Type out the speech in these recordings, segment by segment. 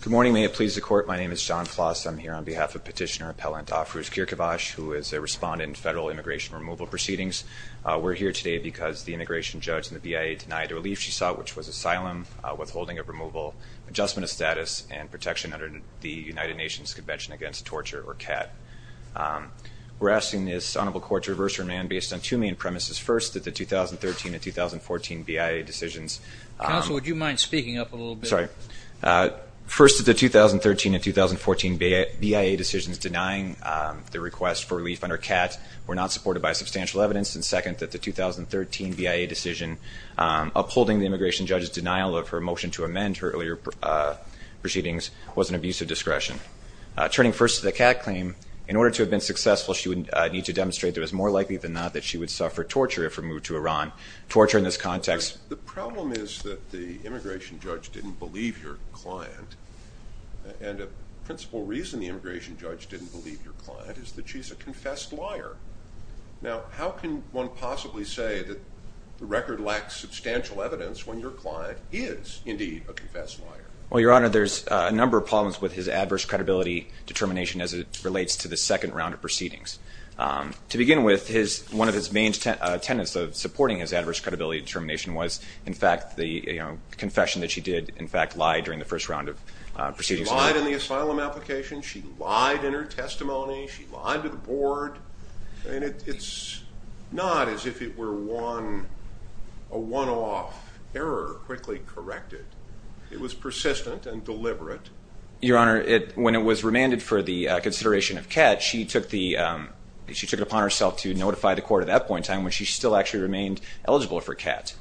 Good morning. May it please the Court. My name is Jon Ploss. I'm here on behalf of Petitioner Appellant Afrouz Keirkhavash, who is a respondent in Federal Immigration Removal Proceedings. We're here today because the immigration judge in the BIA denied a relief she saw, which was asylum, withholding of removal, adjustment of status, and protection under the United Nations Convention Against Torture, or CAT. We're asking this honorable court to reverse her demand based on two main premises. First, that the 2013 and 2014 BIA decisions- Counsel, would you mind speaking up a little bit? Yeah. Sorry. First, that the 2013 and 2014 BIA decisions denying the request for relief under CAT were not supported by substantial evidence, and second, that the 2013 BIA decision upholding the immigration judge's denial of her motion to amend her earlier proceedings was an abuse of discretion. Turning first to the CAT claim, in order to have been successful, she would need to demonstrate that it was more likely than not that she would suffer torture if removed to Iran. Torture in this context- The problem is that the immigration judge didn't believe your client, and a principal reason the immigration judge didn't believe your client is that she's a confessed liar. Now, how can one possibly say that the record lacks substantial evidence when your client is indeed a confessed liar? Well, Your Honor, there's a number of problems with his adverse credibility determination as it relates to the second round of proceedings. To begin with, one of his main tenets of supporting his adverse credibility determination was in fact, the confession that she did, in fact, lie during the first round of proceedings. She lied in the asylum application, she lied in her testimony, she lied to the board, and it's not as if it were a one-off error quickly corrected. It was persistent and deliberate. Your Honor, when it was remanded for the consideration of CAT, she took it upon herself to notify the court at that point in time when she still actually remained eligible for CAT.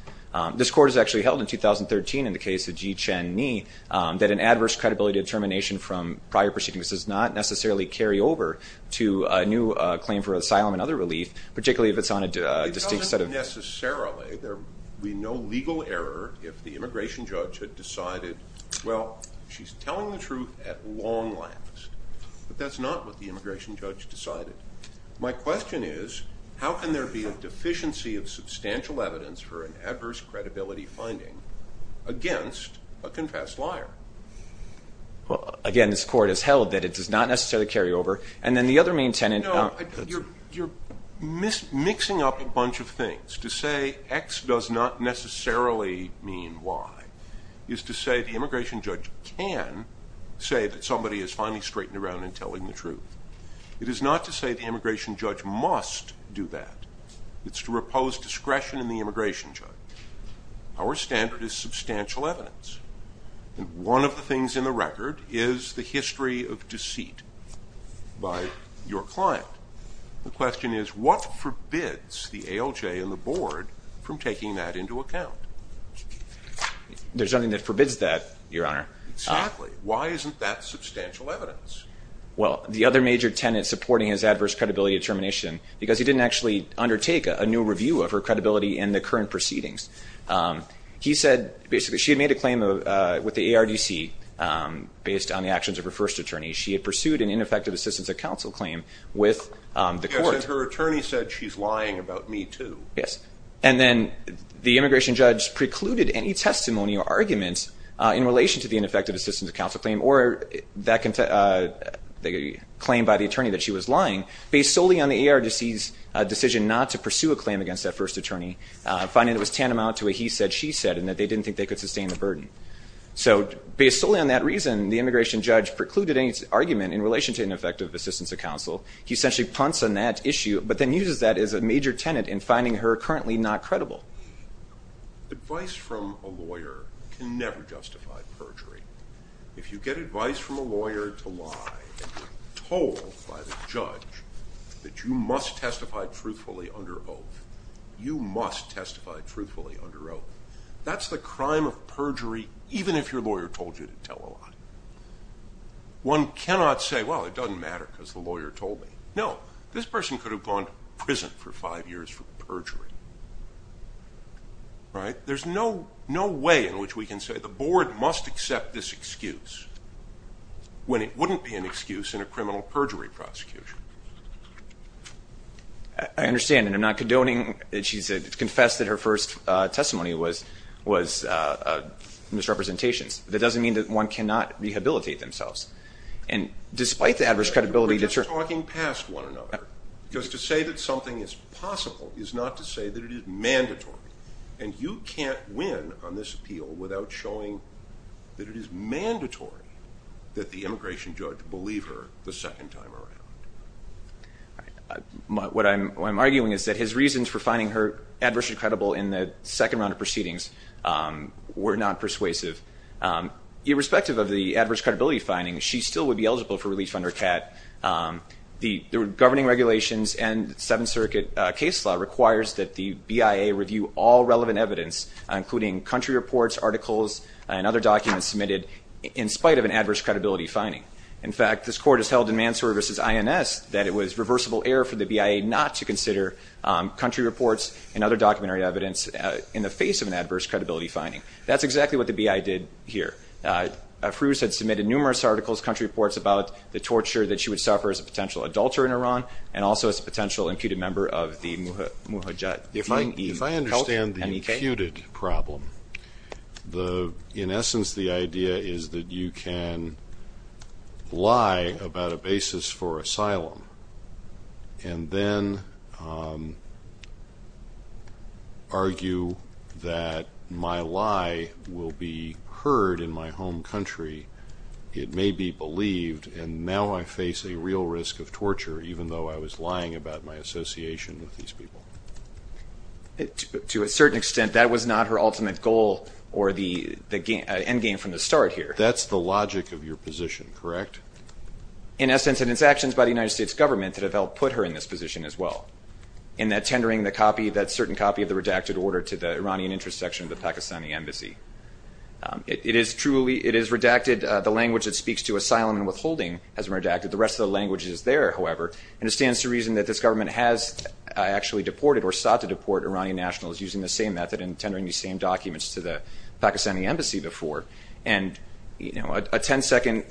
This court has actually held in 2013 in the case of Ji Chen Ni that an adverse credibility determination from prior proceedings does not necessarily carry over to a new claim for asylum and other relief, particularly if it's on a distinct set of- It doesn't necessarily be no legal error if the immigration judge had decided, well, she's telling the truth at long last, but that's not what the immigration judge decided. My question is, how can there be a deficiency of substantial evidence for an adverse credibility finding against a confessed liar? Well, again, this court has held that it does not necessarily carry over, and then the other main tenet- No, you're mixing up a bunch of things. To say X does not necessarily mean Y is to say the immigration judge can say that somebody has finally straightened around and telling the truth. It is not to say the immigration judge must do that. It's to repose discretion in the immigration judge. Our standard is substantial evidence, and one of the things in the record is the history of deceit by your client. The question is, what forbids the ALJ and the board from taking that into account? There's nothing that forbids that, Your Honor. Exactly. Why isn't that substantial evidence? Well, the other major tenet supporting his adverse credibility determination, because he didn't actually undertake a new review of her credibility in the current proceedings. He said, basically, she had made a claim with the ARDC based on the actions of her first attorney. She had pursued an ineffective assistance of counsel claim with the court. Yes, and her attorney said she's lying about me too. Yes. And then the immigration judge precluded any testimony or arguments in relation to the claim by the attorney that she was lying, based solely on the ARDC's decision not to pursue a claim against that first attorney, finding it was tantamount to what he said she said, and that they didn't think they could sustain the burden. So based solely on that reason, the immigration judge precluded any argument in relation to ineffective assistance of counsel. He essentially punts on that issue, but then uses that as a major tenet in finding her currently not credible. Advice from a lawyer can never justify perjury. If you get advice from a lawyer to lie and you're told by the judge that you must testify truthfully under oath, you must testify truthfully under oath, that's the crime of perjury even if your lawyer told you to tell a lie. One cannot say, well, it doesn't matter because the lawyer told me. No. This person could have gone to prison for five years for perjury, right? There's no way in which we can say the board must accept this excuse when it wouldn't be an excuse in a criminal perjury prosecution. I understand, and I'm not condoning that she confessed that her first testimony was misrepresentations. That doesn't mean that one cannot rehabilitate themselves. And despite the adverse credibility that you're talking past one another, because to say that something is possible is not to say that it is mandatory. And you can't win on this appeal without showing that it is mandatory that the immigration judge believe her the second time around. What I'm arguing is that his reasons for finding her adversely credible in the second round of proceedings were not persuasive. Irrespective of the adverse credibility finding, she still would be eligible for release under CAT. The governing regulations and Seventh Circuit case law requires that the BIA review all relevant evidence, including country reports, articles, and other documents submitted in spite of an adverse credibility finding. In fact, this court has held in Mansour v. INS that it was reversible error for the BIA not to consider country reports and other documentary evidence in the face of an adverse credibility finding. That's exactly what the BIA did here. Afrooz had submitted numerous articles, country reports, about the torture that she would suffer as a potential adulterer in Iran and also as a potential imputed member of the Mujahedin. If I understand the imputed problem, in essence, the idea is that you can lie about a basis for asylum and then argue that my lie will be heard in my home country. It may be believed and now I face a real risk of torture even though I was lying about my association with these people. To a certain extent, that was not her ultimate goal or the end game from the start here. That's the logic of your position, correct? Correct. In essence, it is actions by the United States government that have helped put her in this position as well in that tendering that certain copy of the redacted order to the Iranian interest section of the Pakistani embassy. It is redacted. The language that speaks to asylum and withholding has been redacted. The rest of the language is there, however, and it stands to reason that this government has actually deported or sought to deport Iranian nationals using the same method and tendering these same documents to the Pakistani embassy before. And a 10-second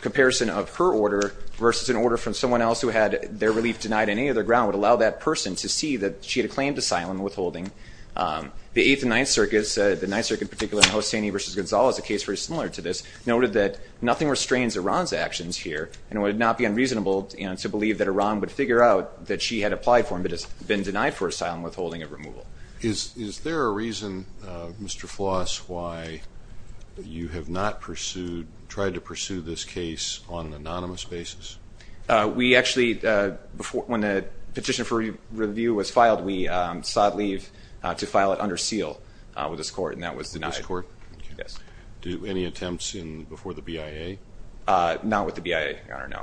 comparison of her order versus an order from someone else who had their relief denied on any other ground would allow that person to see that she had claimed asylum and withholding. The Eighth and Ninth Circus, the Ninth Circus in particular in Hosseini v. Gonzales, a case very similar to this, noted that nothing restrains Iran's actions here and it would not be unreasonable to believe that Iran would figure out that she had applied for them but has been denied for asylum, withholding, and removal. Is there a reason, Mr. Floss, why you have not pursued, tried to pursue this case on an anonymous basis? We actually, when the petition for review was filed, we sought leave to file it under seal with this court and that was denied. With this court? Yes. Any attempts before the BIA? Not with the BIA, Your Honor, no.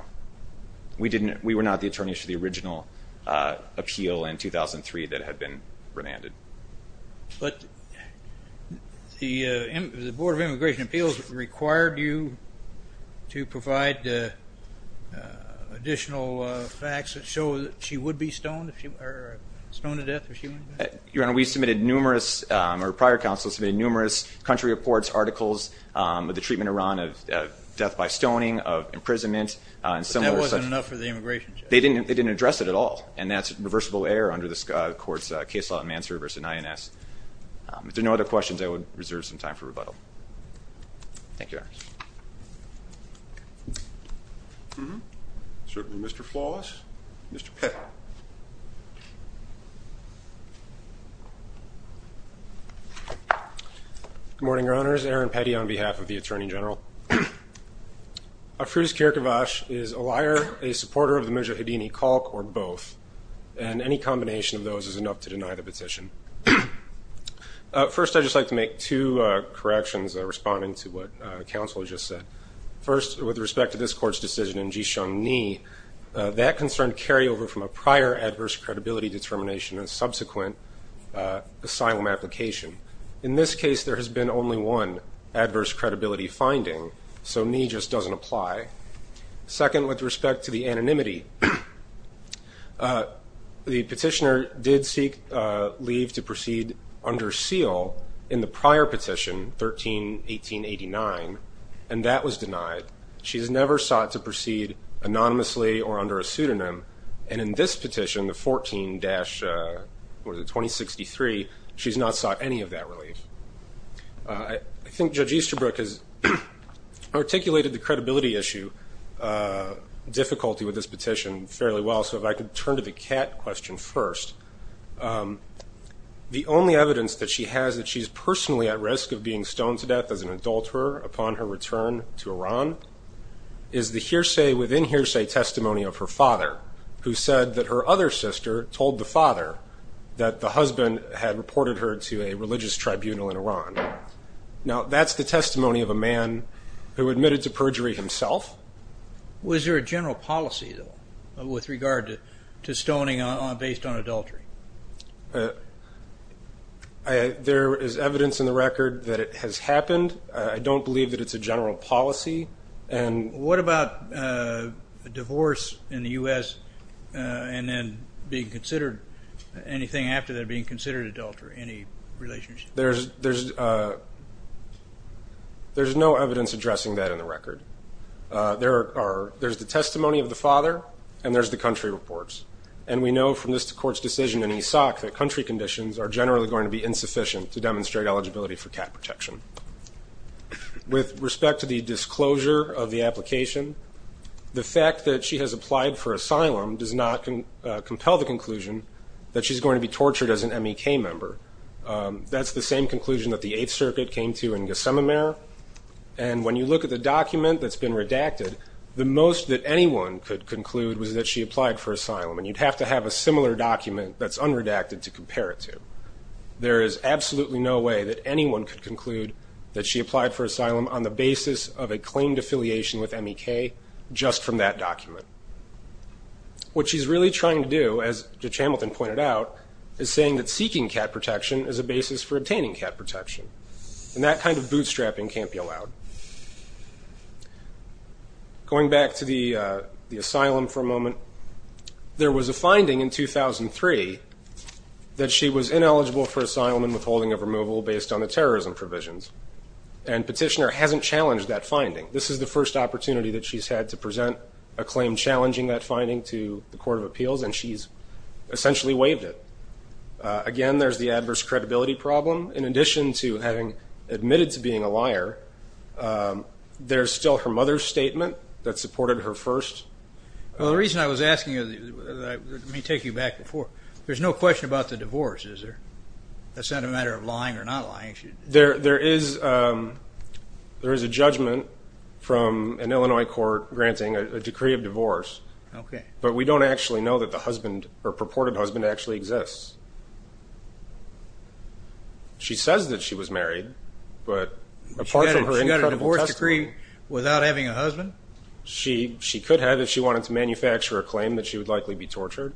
We were not the attorneys for the original appeal in 2003 that had been remanded. But the Board of Immigration Appeals required you to provide additional facts that show that she would be stoned, or stoned to death if she went back? Your Honor, we submitted numerous, or prior counsel submitted numerous country reports, articles of the treatment of Iran of death by stoning, of imprisonment, and similar. But that wasn't enough for the immigration judge? They didn't address it at all. And that's reversible error under this court's case law in Mansour v. INS. If there are no other questions, I would reserve some time for rebuttal. Thank you, Your Honor. Mr. Floss? Mr. Pitt. Good morning, Your Honors, Aaron Petty on behalf of the Attorney General. Afrooz Kirkevash is a liar, a supporter of the Mejahedini caulk, or both. And any combination of those is enough to deny the petition. First I'd just like to make two corrections responding to what counsel just said. First, with respect to this court's decision in Jishong Ni, that concern carried over from a prior adverse credibility determination and subsequent asylum application. In this case, there has been only one adverse credibility finding, so Ni just doesn't apply. Second, with respect to the anonymity, the petitioner did seek leave to proceed under seal in the prior petition, 13-1889, and that was denied. She has never sought to proceed anonymously or under a pseudonym. And in this petition, the 14-2063, she's not sought any of that relief. I think Judge Easterbrook has articulated the credibility issue difficulty with this petition fairly well, so if I could turn to the Kat question first. The only evidence that she has that she's personally at risk of being stoned to death as an adulterer upon her return to Iran is the hearsay, within hearsay, testimony of her father, who said that her other sister told the father that the husband had reported her to a religious tribunal in Iran. Now that's the testimony of a man who admitted to perjury himself. Was there a general policy, though, with regard to stoning based on adultery? There is evidence in the record that it has happened. I don't believe that it's a general policy. What about a divorce in the U.S. and then being considered, anything after that being considered adultery, any relationship? There's no evidence addressing that in the record. There's the testimony of the father, and there's the country reports. And we know from this court's decision in Ishaq that country conditions are generally going to be insufficient to demonstrate eligibility for Kat protection. With respect to the disclosure of the application, the fact that she has applied for asylum does not compel the conclusion that she's going to be tortured as an MEK member. That's the same conclusion that the Eighth Circuit came to in Ghasememeh, and when you look at the document that's been redacted, the most that anyone could conclude was that she applied for asylum, and you'd have to have a similar document that's unredacted to compare it to. There is absolutely no way that anyone could conclude that she applied for asylum on the basis of a claimed affiliation with MEK just from that document. What she's really trying to do, as Judge Hamilton pointed out, is saying that seeking Kat protection is a basis for obtaining Kat protection, and that kind of bootstrapping can't be allowed. Going back to the asylum for a moment, there was a finding in 2003 that she was ineligible for asylum and withholding of removal based on the terrorism provisions, and Petitioner hasn't challenged that finding. This is the first opportunity that she's had to present a claim challenging that finding to the Court of Appeals, and she's essentially waived it. Again, there's the adverse credibility problem. In addition to having admitted to being a liar, there's still her mother's statement that supported her first. Well, the reason I was asking you, let me take you back before, there's no question about the divorce, is there? That's not a matter of lying or not lying. There is a judgment from an Illinois court granting a decree of divorce, but we don't actually know that the husband, her purported husband, actually exists. She says that she was married, but apart from her incredible testimony... She got a divorce decree without having a husband? She could have if she wanted to manufacture a claim that she would likely be tortured,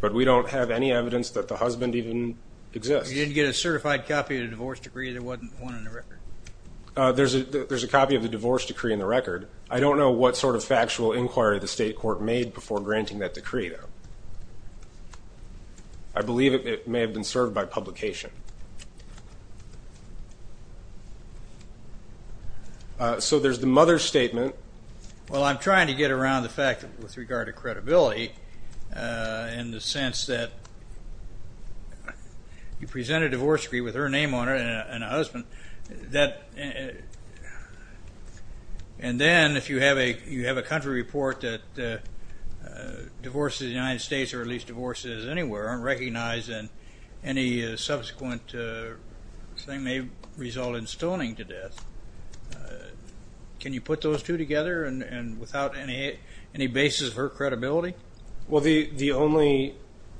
but we don't have any evidence that the husband even exists. You didn't get a certified copy of the divorce decree? There wasn't one in the record? There's a copy of the divorce decree in the record. I don't know what sort of factual inquiry the state court made before granting that decree though. I believe it may have been served by publication. So there's the mother's statement. Well, I'm trying to get around the fact with regard to credibility in the sense that you then, if you have a country report that divorces in the United States, or at least divorces anywhere, aren't recognized, and any subsequent thing may result in stoning to death. Can you put those two together without any basis for credibility? The only...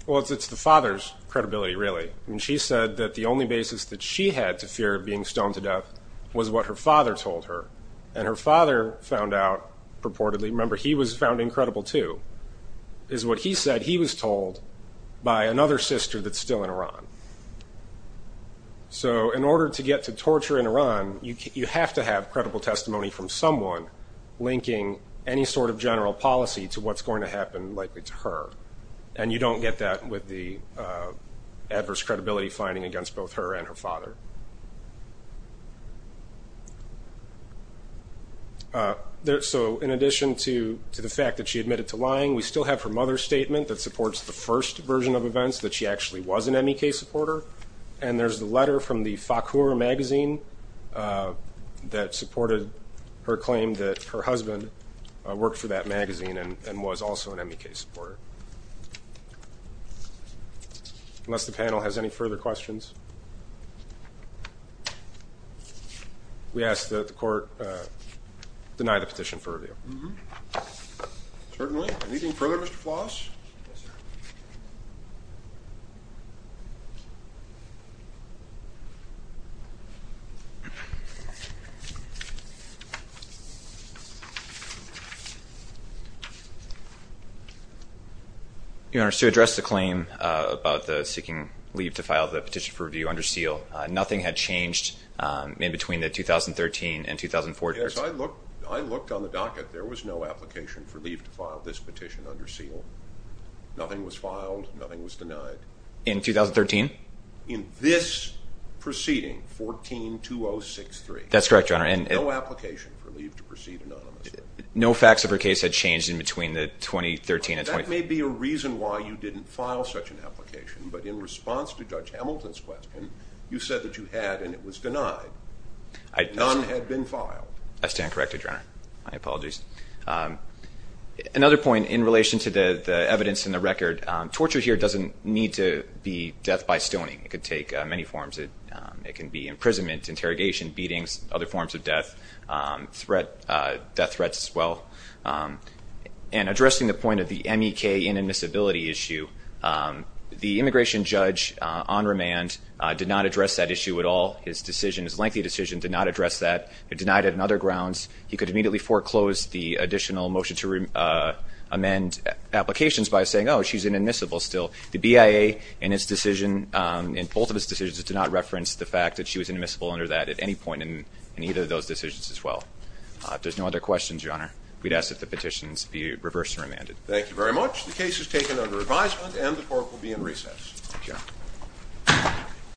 Well, it's the father's credibility really. She said that the only basis that she had to fear of being stoned to death was what her father told her, and her father found out purportedly, remember he was found incredible too, is what he said he was told by another sister that's still in Iran. So in order to get to torture in Iran, you have to have credible testimony from someone linking any sort of general policy to what's going to happen likely to her, and you don't get that with the adverse credibility finding against both her and her father. So in addition to the fact that she admitted to lying, we still have her mother's statement that supports the first version of events, that she actually was an MEK supporter, and there's the letter from the Fakhoura magazine that supported her claim that her husband worked for that magazine and was also an MEK supporter. Unless the panel has any further questions, we ask that the court deny the petition for review. Certainly. Anything further, Mr. Floss? Yes, sir. Your Honor, to address the claim about the seeking leave to file the petition for review under seal, nothing had changed in between the 2013 and 2014. Yes, I looked on the docket. There was no application for leave to file this petition under seal. Nothing was filed. Nothing was denied. In 2013? In this proceeding, 14-2063. That's correct, Your Honor. There was no application for leave to proceed anonymously. No facts of her case had changed in between the 2013 and 2014. That may be a reason why you didn't file such an application, but in response to Judge Hamilton's question, you said that you had and it was denied. None had been filed. I stand corrected, Your Honor. My apologies. Another point in relation to the evidence in the record. Torture here doesn't need to be death by stoning. It could take many forms. It can be imprisonment, interrogation, beatings, other forms of death, death threats as well. And addressing the point of the MEK inadmissibility issue, the immigration judge on remand did not address that issue at all. His decision, his lengthy decision, did not address that. It denied it on other grounds. He could immediately foreclose the additional motion to amend applications by saying, oh, she's inadmissible still. The BIA in its decision, in both of its decisions, did not reference the fact that she was inadmissible under that at any point in either of those decisions as well. If there's no other questions, Your Honor, we'd ask that the petitions be reversed and remanded. Thank you very much. The case is taken under advisement and the court will be in recess. Thank you.